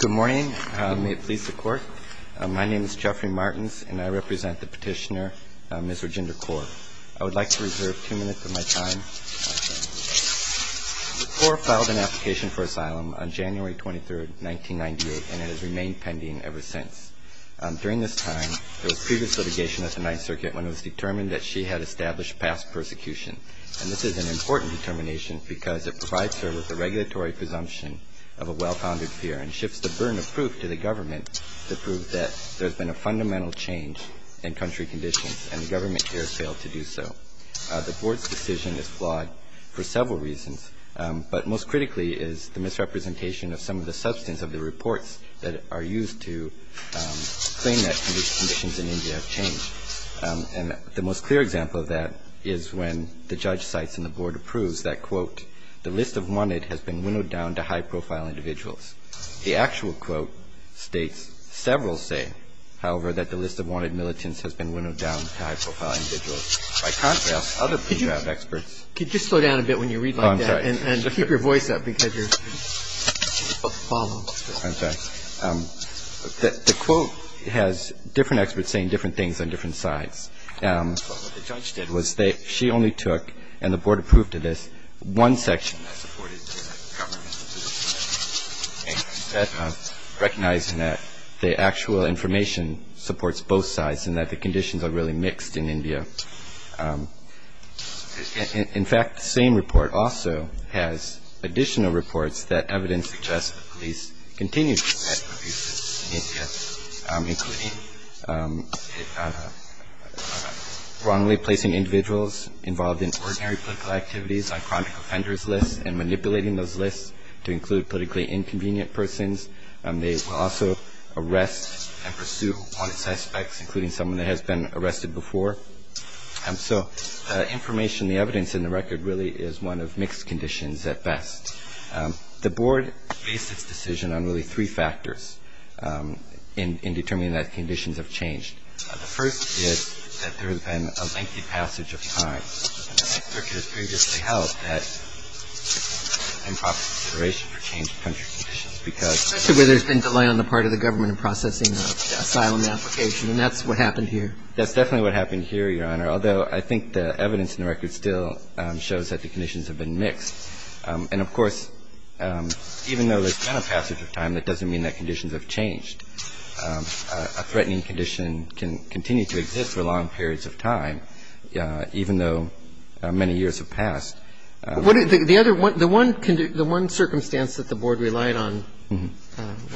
Good morning. May it please the Court. My name is Jeffrey Martins, and I represent the petitioner, Ms. Rajinder Kaur. I would like to reserve two minutes of my time. Kaur filed an application for asylum on January 23, 1998, and it has remained pending ever since. During this time, there was previous litigation at the Ninth Circuit when it was determined that she had established past persecution. And this is an important determination because it provides her with a regulatory presumption of a well-founded fear and shifts the burden of proof to the government to prove that there has been a fundamental change in country conditions, and the government here has failed to do so. The Board's decision is flawed for several reasons, but most critically is the misrepresentation of some of the substance of the reports that are used to claim that conditions in India have changed. And the most clear example of that is when the judge cites and the Board approves that, quote, the list of wanted has been winnowed down to high-profile individuals. The actual quote states, several say, however, that the list of wanted militants has been winnowed down to high-profile individuals. By contrast, other pre-trial experts ---- The quote has different experts saying different things on different sides. What the judge did was she only took, and the Board approved of this, one section that supported the government, recognizing that the actual information supports both sides and that the conditions are really mixed in India. In fact, the same report also has additional reports that evidence suggests that police continue to commit abuses in India, including wrongly placing individuals involved in ordinary political activities on chronic offenders' lists and manipulating those lists to include politically inconvenient persons. They will also arrest and pursue wanted suspects, including someone that has been arrested before. So information, the evidence, and the record really is one of mixed conditions at best. The Board based its decision on really three factors in determining that conditions have changed. The first is that there has been a lengthy passage of time. An executive previously held that improper consideration for changed country conditions because ---- Especially where there's been delay on the part of the government in processing the asylum application, and that's what happened here. That's definitely what happened here, Your Honor, although I think the evidence in the record still shows that the conditions have been mixed. And, of course, even though there's been a passage of time, that doesn't mean that conditions have changed. A threatening condition can continue to exist for long periods of time, even though many years have passed. The other one, the one circumstance that the Board relied on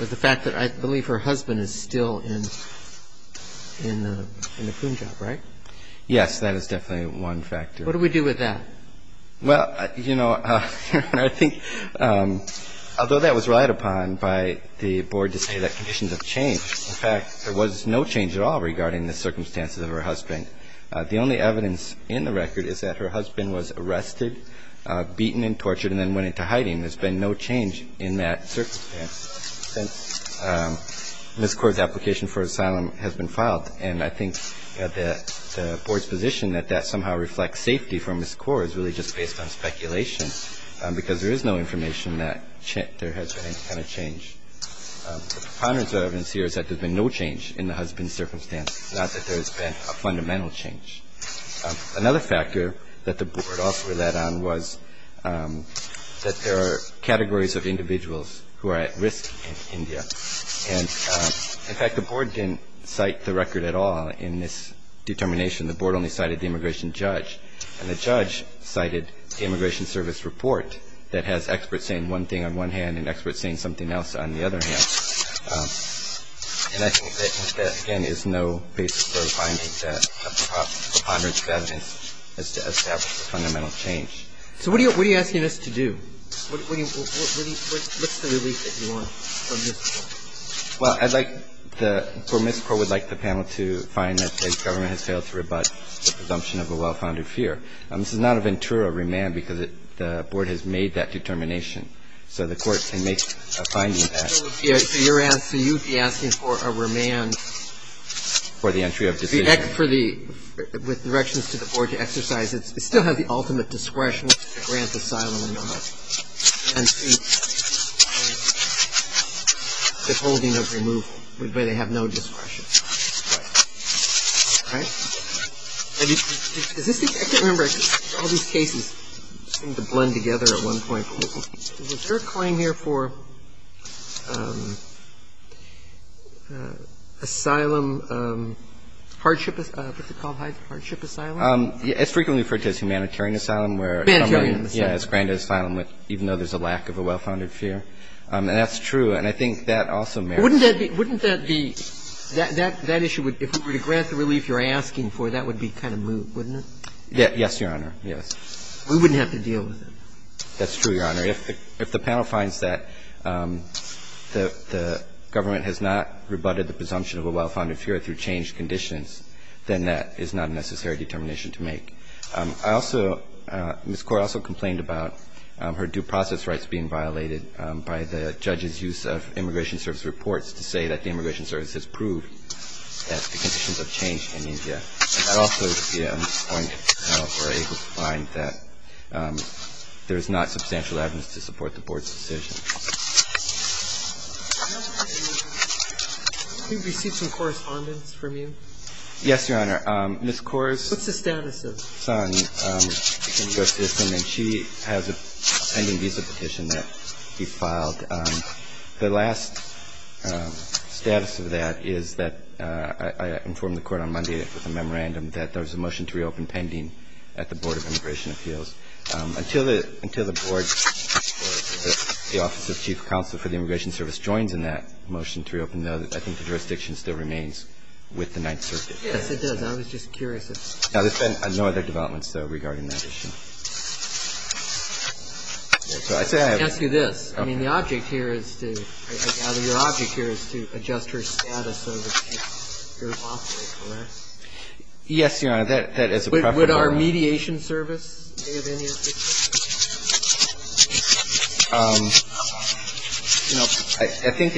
was the fact that I believe her husband is still in the Punjab, right? Yes, that is definitely one factor. What do we do with that? Well, you know, I think although that was relied upon by the Board to say that conditions have changed, in fact, there was no change at all regarding the circumstances of her husband. The only evidence in the record is that her husband was arrested, beaten and tortured and then went into hiding. There's been no change in that circumstance since Ms. Kaur's application for asylum has been filed. And I think that the Board's position that that somehow reflects safety for Ms. Kaur is really just based on speculation because there is no information that there has been any kind of change. The preponderance of evidence here is that there's been no change in the husband's circumstance, not that there's been a fundamental change. Another factor that the Board also relied on was that there are categories of individuals who are at risk in India. And, in fact, the Board didn't cite the record at all in this determination. The Board only cited the immigration judge, and the judge cited the Immigration Service Report that has experts saying one thing on one hand and experts saying something else on the other hand. And I think that, again, is no basis for finding that a preponderance of evidence is to establish a fundamental change. So what are you asking us to do? What's the relief that you want from Ms. Kaur? Well, I'd like the – for Ms. Kaur, we'd like the panel to find that the government has failed to rebut the presumption of a well-founded fear. This is not a Ventura remand because the Board has made that determination. So the Court can make a finding of that. So you're asking – so you'd be asking for a remand? For the entry of disenfranchisement. For the – with directions to the Board to exercise. It still has the ultimate discretion to grant asylum and see the holding of removal, but they have no discretion. Right. Right? I mean, is this the – I can't remember. All these cases seem to blend together at one point. Was there a claim here for asylum, hardship – what's it called, Hyde? Hardship asylum? It's frequently referred to as humanitarian asylum where somebody is granted asylum even though there's a lack of a well-founded fear. And that's true. And I think that also merits – Wouldn't that be – that issue, if we were to grant the relief you're asking for, that would be kind of moot, wouldn't it? Yes, Your Honor. Yes. We wouldn't have to deal with it. That's true, Your Honor. If the panel finds that the government has not rebutted the presumption of a well-founded fear through changed conditions, then that is not a necessary determination to make. I also – Ms. Corr also complained about her due process rights being violated by the judge's use of Immigration Service reports to say that the Immigration Service has proved that the conditions have changed in India. I also see on this point that we're able to find that there's not substantial evidence to support the Board's decision. Can we receive some correspondence from you? Yes, Your Honor. Ms. Corr's son goes to the system, and she has a pending visa petition that needs to be filed. The last status of that is that I informed the Court on Monday that the matter was a motion to reopen pending at the Board of Immigration Appeals. Until the Board or the Office of Chief Counsel for the Immigration Service joins in that motion to reopen, though, I think the jurisdiction still remains with the Ninth Circuit. Yes, it does. I was just curious if – Now, there's been no other developments, though, regarding that issue. So I say I have – Let me ask you this. I mean, the object here is to – I gather your object here is to adjust her status Yes, Your Honor. That is a preference. Would our mediation service be of any assistance? You know, I think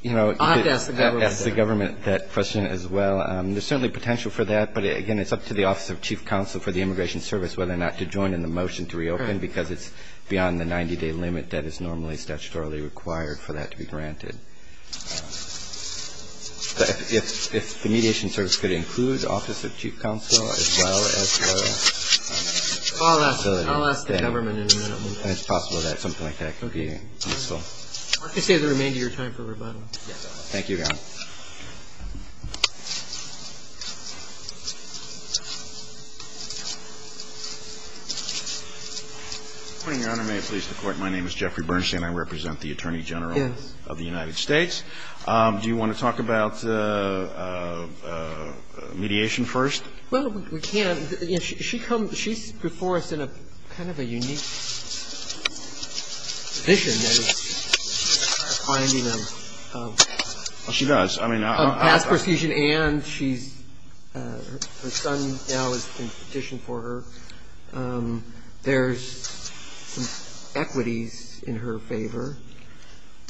– I'll have to ask the government. I'll have to ask the government that question as well. There's certainly potential for that. But, again, it's up to the Office of Chief Counsel for the Immigration Service whether or not to join in the motion to reopen because it's beyond the 90-day limit that is normally statutorily required for that to be granted. If the mediation service could include the Office of Chief Counsel as well as the facility. I'll ask the government in a minute. It's possible that something like that could be useful. I can save the remainder of your time for rebuttal. Thank you, Your Honor. Good morning, Your Honor. May it please the Court. My name is Jeffrey Bernstein. I represent the Attorney General of the United States. Do you want to talk about mediation first? Well, we can. She comes – she's before us in a kind of a unique position. She does. I mean – Past procedure and she's – her son now has been petitioned for her. There's some equities in her favor.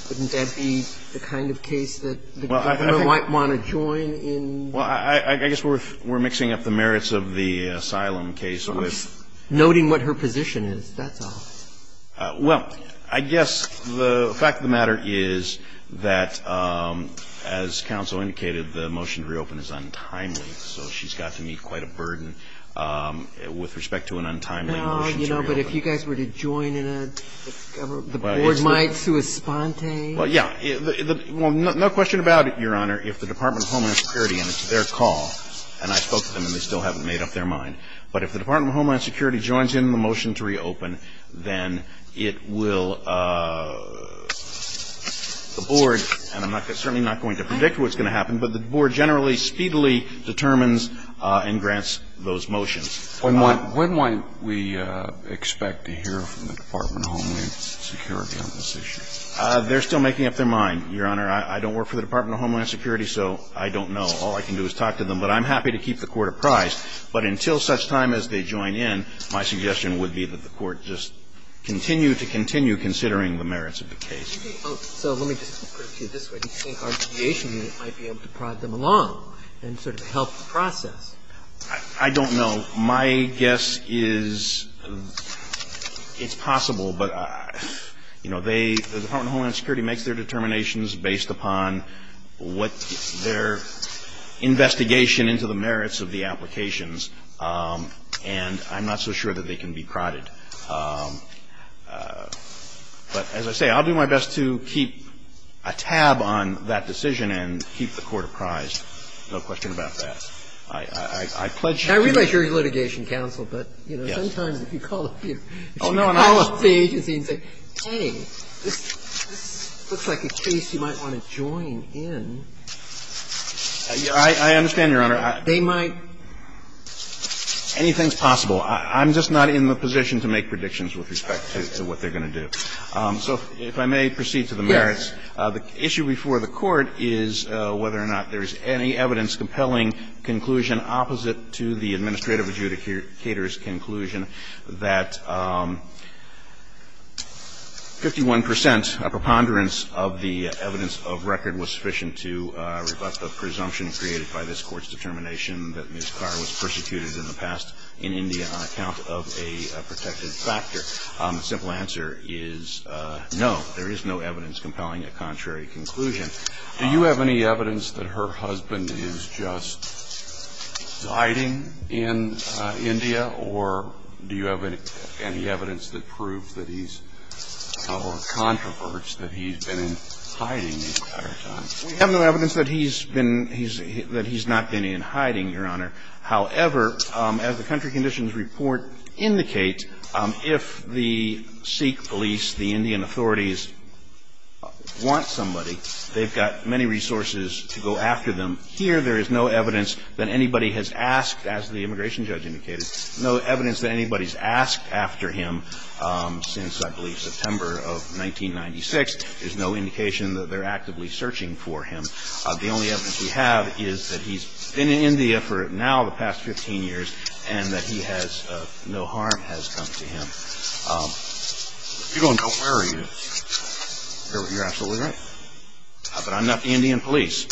Wouldn't that be the kind of case that the government might want to join in? Well, I guess we're mixing up the merits of the asylum case with – Noting what her position is, that's all. Well, I guess the fact of the matter is that, as counsel indicated, the motion to reopen is untimely, so she's got to meet quite a burden with respect to an untimely motion to reopen. You know, but if you guys were to join in a – the Board might sui sponte? Well, yeah. Well, no question about it, Your Honor. If the Department of Homeland Security – and it's their call, and I spoke to them and they still haven't made up their mind – but if the Department of Homeland Security joins in on the motion to reopen, then it will – the Board – and I'm certainly not going to predict what's going to happen, but the Board generally speedily determines and grants those motions. When might we expect to hear from the Department of Homeland Security on this issue? They're still making up their mind, Your Honor. I don't work for the Department of Homeland Security, so I don't know. All I can do is talk to them. But I'm happy to keep the Court apprised. But until such time as they join in, my suggestion would be that the Court just continue to continue considering the merits of the case. So let me just put it to you this way. Do you think our deviation unit might be able to prod them along and sort of help the process? I don't know. My guess is it's possible, but they – the Department of Homeland Security makes their determinations based upon what their investigation into the merits of the applications, and I'm not so sure that they can be prodded. But as I say, I'll do my best to keep a tab on that decision and keep the Court apprised, no question about that. I pledge you the – I realize you're a litigation counsel, but, you know, sometimes if you call a few – if you call a few agency and say, hey, this looks like a case you might want to join in, they might – I understand, Your Honor. Anything's possible. I'm just not in the position to make predictions with respect to what they're going to do. So if I may proceed to the merits. Yes. The issue before the Court is whether or not there is any evidence compelling conclusion opposite to the administrative adjudicator's conclusion that 51 percent preponderance of the evidence of record was sufficient to rebut the presumption created by this Court's determination that Ms. Carr was persecuted in the past in India on account of a protected factor. The simple answer is no. There is no evidence compelling a contrary conclusion. Do you have any evidence that her husband is just hiding in India, or do you have any evidence that proves that he's a little controversial, that he's been hiding the entire time? We have no evidence that he's been – that he's not been in hiding, Your Honor. However, as the country conditions report indicate, if the Sikh police, the Indian authorities want somebody, they've got many resources to go after them. Here, there is no evidence that anybody has asked, as the immigration judge indicated, no evidence that anybody has asked after him since, I believe, September of 1996. There's no indication that they're actively searching for him. The only evidence we have is that he's been in India for now the past 15 years and that he has – no harm has come to him. If you're going, don't worry. You're absolutely right. But I'm not the Indian police.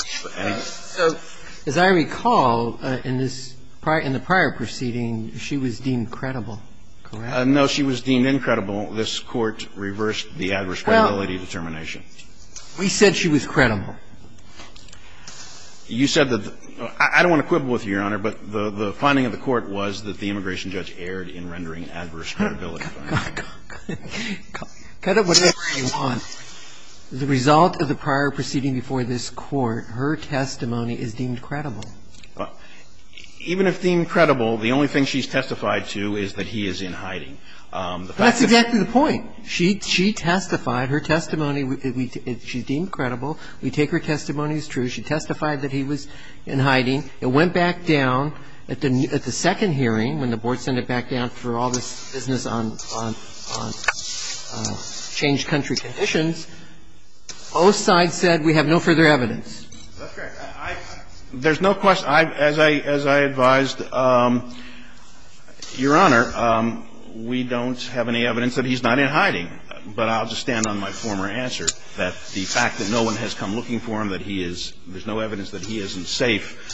As I recall, in this – in the prior proceeding, she was deemed credible, correct? No, she was deemed incredible. This Court reversed the adverse credibility determination. We said she was credible. You said that – I don't want to quibble with you, Your Honor, but the finding of the court was that the immigration judge erred in rendering adverse credibility. Cut it whatever you want. The result of the prior proceeding before this Court, her testimony is deemed credible. Even if deemed credible, the only thing she's testified to is that he is in hiding. That's exactly the point. She testified. Her testimony, she's deemed credible. We take her testimony as true. She testified that he was in hiding. The court reversed the adverse credibility determination. It went back down at the second hearing, when the board sent it back down for all this business on changed country conditions. Both sides said we have no further evidence. That's right. I – there's no question. As I advised, Your Honor, we don't have any evidence that he's not in hiding. But I'll just stand on my former answer, that the fact that no one has come looking for him, that he is – there's no evidence that he isn't safe,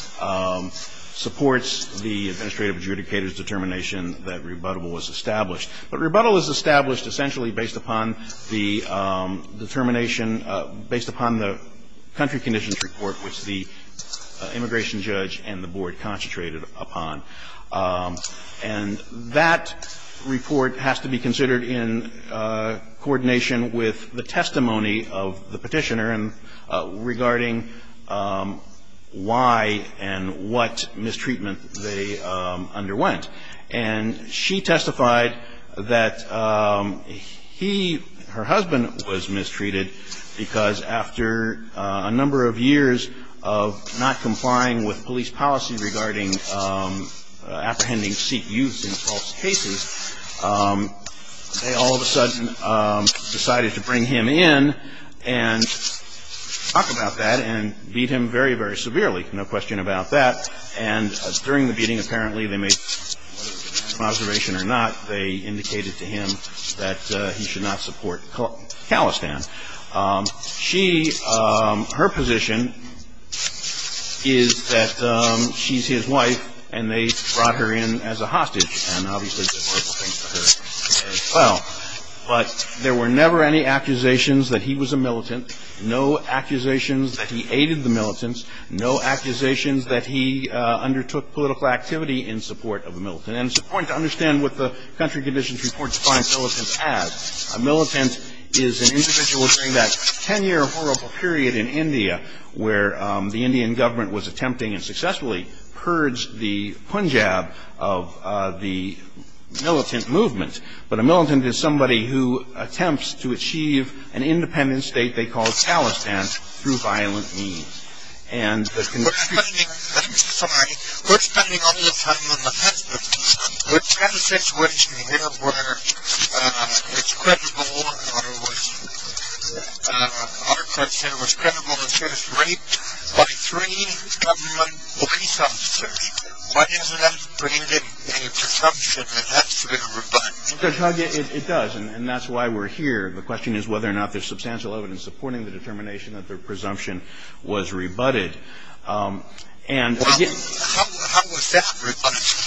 supports the administrative adjudicator's determination that rebuttal was established. But rebuttal is established essentially based upon the determination – based upon the country conditions report, which the immigration judge and the board concentrated upon. And that report has to be considered in coordination with the testimony of the petitioner regarding why and what mistreatment they underwent. And she testified that he – her husband was mistreated because after a number of years of not complying with police policy regarding apprehending Sikh youth in false cases, they all of a sudden decided to bring him in and talk about that and beat him very, very severely. No question about that. And during the beating, apparently, they made – from observation or not, they indicated to him that he should not support Khalistan. She – her position is that she's his wife, and they brought her in as a hostage. And obviously, the board thinks of her as well. But there were never any accusations that he was a militant, no accusations that he aided the militants, no accusations that he undertook political activity in support of a militant. And it's important to understand what the country conditions report defines militants as. A militant is an individual during that 10-year horrible period in India where the Indian government was attempting and successfully purged the Punjab of the militant movement. But a militant is somebody who attempts to achieve an independent state they call Khalistan through violent means. We're spending – I'm sorry. We're spending all this time on the facts, but we've got a situation here where it's credible or it was – or I should say it was credible to say it was raped by three government police officers. Why doesn't that bring in a presumption that that's a rebuttal? It does, and that's why we're here. The question is whether or not there's substantial evidence supporting the determination that their presumption was rebutted. And again – How was that rebutted?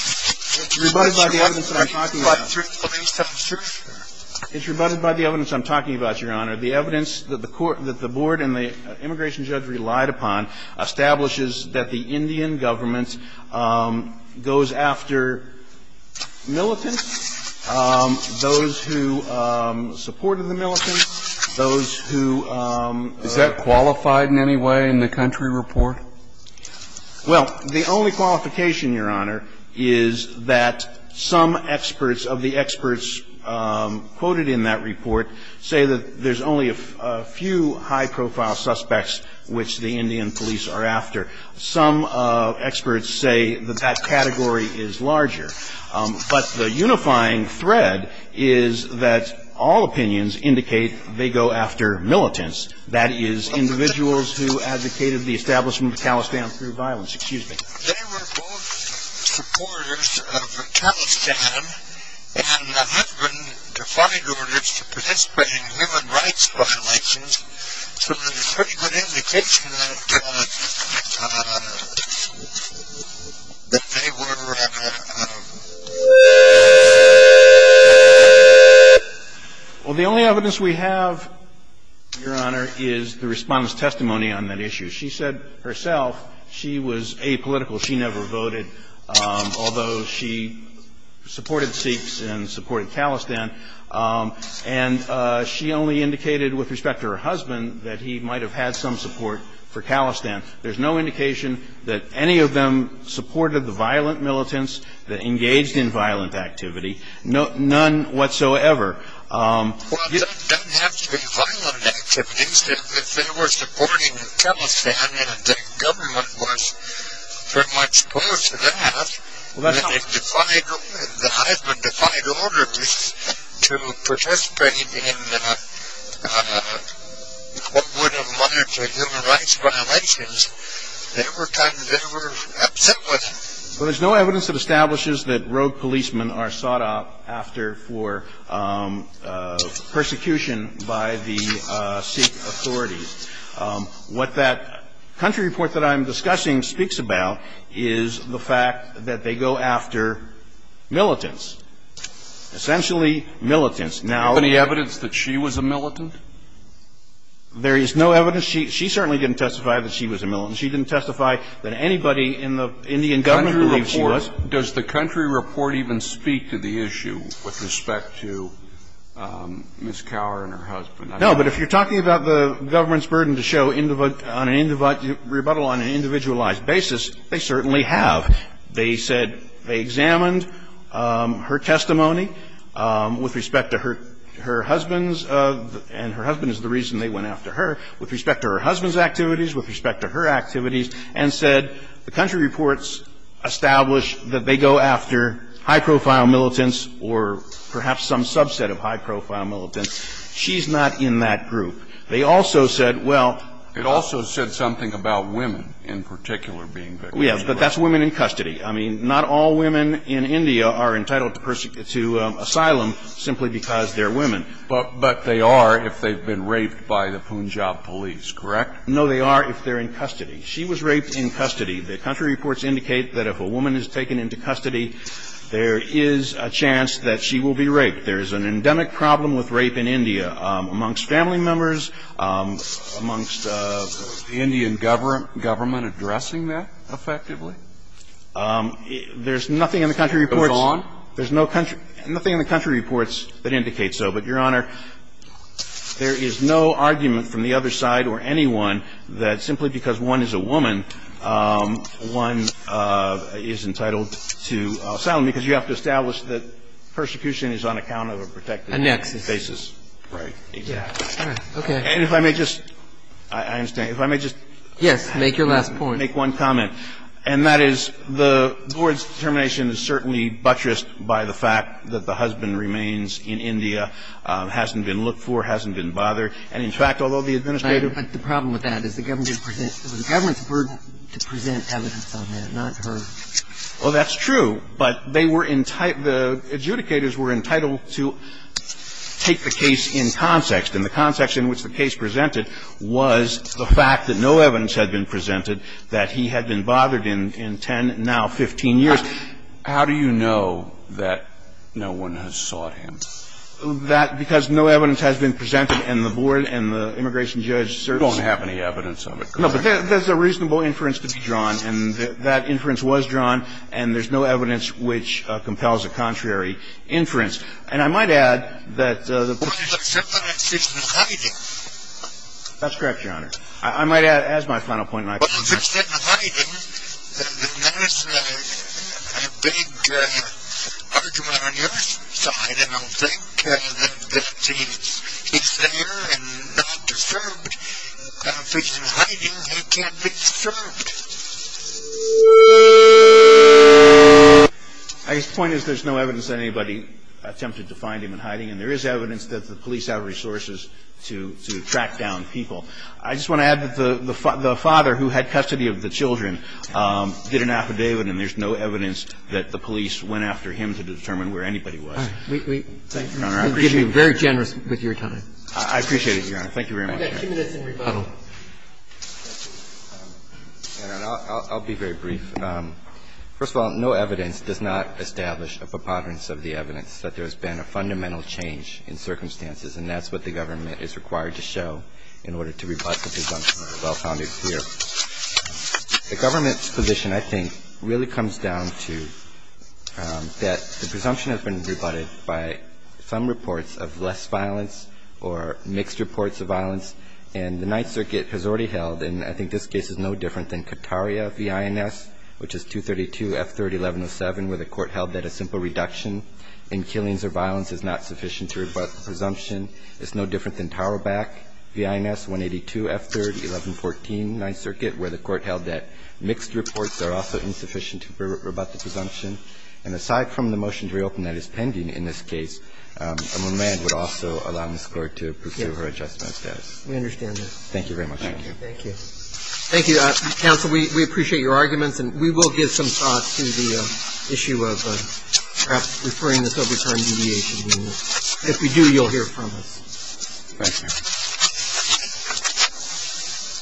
It's rebutted by the evidence that I'm talking about. By three police officers? It's rebutted by the evidence I'm talking about, Your Honor. The evidence that the court – that the board and the immigration judge relied upon establishes that the Indian government goes after militants, those who supported the militants, those who – Is that qualified in any way in the country report? Well, the only qualification, Your Honor, is that some experts of the experts quoted in that report say that there's only a few high-profile suspects which the Indian police are after. Some experts say that that category is larger. But the unifying thread is that all opinions indicate they go after militants. That is, individuals who advocated the establishment of Talestan through violence. Excuse me. They were both supporters of Talestan and had been defiant in participating in human rights violations, so there's pretty good indication that they were – Well, the only evidence we have, Your Honor, is the Respondent's testimony on that issue. She said herself she was apolitical. She never voted, although she supported Sikhs and supported Talestan. And she only indicated with respect to her husband that he might have had some support for Talestan. There's no indication that any of them supported the violent militants that engaged in violent activity. None whatsoever. Well, it doesn't have to be violent activities. If they were supporting Talestan and the government was very much opposed to that, Well, there's no evidence that establishes that rogue policemen are sought after for persecution by the Sikh authorities. What that country report that I'm discussing speaks about is the fact that there is no evidence that they go after militants, essentially militants. Now the evidence that she was a militant? There is no evidence. She certainly didn't testify that she was a militant. She didn't testify that anybody in the Indian government believed she was. Does the country report even speak to the issue with respect to Ms. Cowher and her husband? No, but if you're talking about the government's burden to show rebuttal on an individualized basis, they certainly have. They said they examined her testimony with respect to her husband's, and her husband is the reason they went after her, with respect to her husband's activities, with respect to her activities, and said the country reports establish that they go after high-profile militants or perhaps some subset of high-profile militants. She's not in that group. They also said, well ---- It also said something about women in particular being victims. Yes, but that's women in custody. I mean, not all women in India are entitled to asylum simply because they're women. But they are if they've been raped by the Punjab police, correct? No, they are if they're in custody. She was raped in custody. The country reports indicate that if a woman is taken into custody, there is a chance that she will be raped. There is an endemic problem with rape in India. Amongst family members, amongst the Indian government addressing that effectively? There's nothing in the country reports ---- Goes on? There's no country ---- nothing in the country reports that indicates so. But, Your Honor, there is no argument from the other side or anyone that simply because one is a woman, one is entitled to asylum, because you have to establish that persecution is on account of a protected basis. A nexus. Right. Exactly. All right. Okay. And if I may just ---- I understand. If I may just ---- Yes. Make your last point. Make one comment. And that is the Board's determination is certainly buttressed by the fact that the husband remains in India, hasn't been looked for, hasn't been bothered. And, in fact, although the Administrator ---- But the problem with that is the government didn't present ---- the government's burden to present evidence on that, not her. Well, that's true. But they were ---- the adjudicators were entitled to take the case in context. And the context in which the case presented was the fact that no evidence had been presented, that he had been bothered in 10, now 15 years. How do you know that no one has sought him? That ---- because no evidence has been presented, and the Board and the immigration judge certainly ---- Don't have any evidence of it. No, but there's a reasonable inference to be drawn. And that inference was drawn, and there's no evidence which compels a contrary inference. And I might add that the ---- Well, except that it's in hiding. That's correct, Your Honor. I might add, as my final point, and I ---- Well, if it's in hiding, then that's a big argument on your side. I don't think that he's there and not disturbed. If it's in hiding, he can't be disturbed. I guess the point is there's no evidence that anybody attempted to find him in hiding, and there is evidence that the police have resources to track down people. I just want to add that the father who had custody of the children did an affidavit, and there's no evidence that the police went after him to determine where anybody was. Thank you. Thank you. Thank you, Your Honor. Thank you, Your Honor. We ---- Thank you, Your Honor. I appreciate it. You've been very generous with your time. I appreciate it, Your Honor. Thank you very much. We've got two minutes in rebuttal. I'll be very brief. First of all, no evidence does not establish a preponderance of the evidence that there's been a fundamental change in circumstances, and that's what the government is required to show in order to rebut the presumption of a well-founded fear. The government's position, I think, really comes down to that the presumption has been rebutted by some reports of less violence or mixed reports of violence, and the Ninth Circuit has already held, and I think this case is no different than Kataria v. INS, which is 232 F30-1107, where the court held that a simple reduction in killings or violence is not sufficient to rebut the presumption. It's no different than Taurabac v. INS, 182 F30-1114, Ninth Circuit, where the court held that mixed reports are also insufficient to rebut the presumption. And aside from the motion to reopen that is pending in this case, I'm reminded it would also allow this Court to pursue her adjustment of status. We understand that. Thank you very much, Your Honor. Thank you. Thank you. Thank you, counsel. We appreciate your arguments, and we will give some thought to the issue of perhaps referring this over to our mediation unit. If we do, you'll hear from us. Thank you.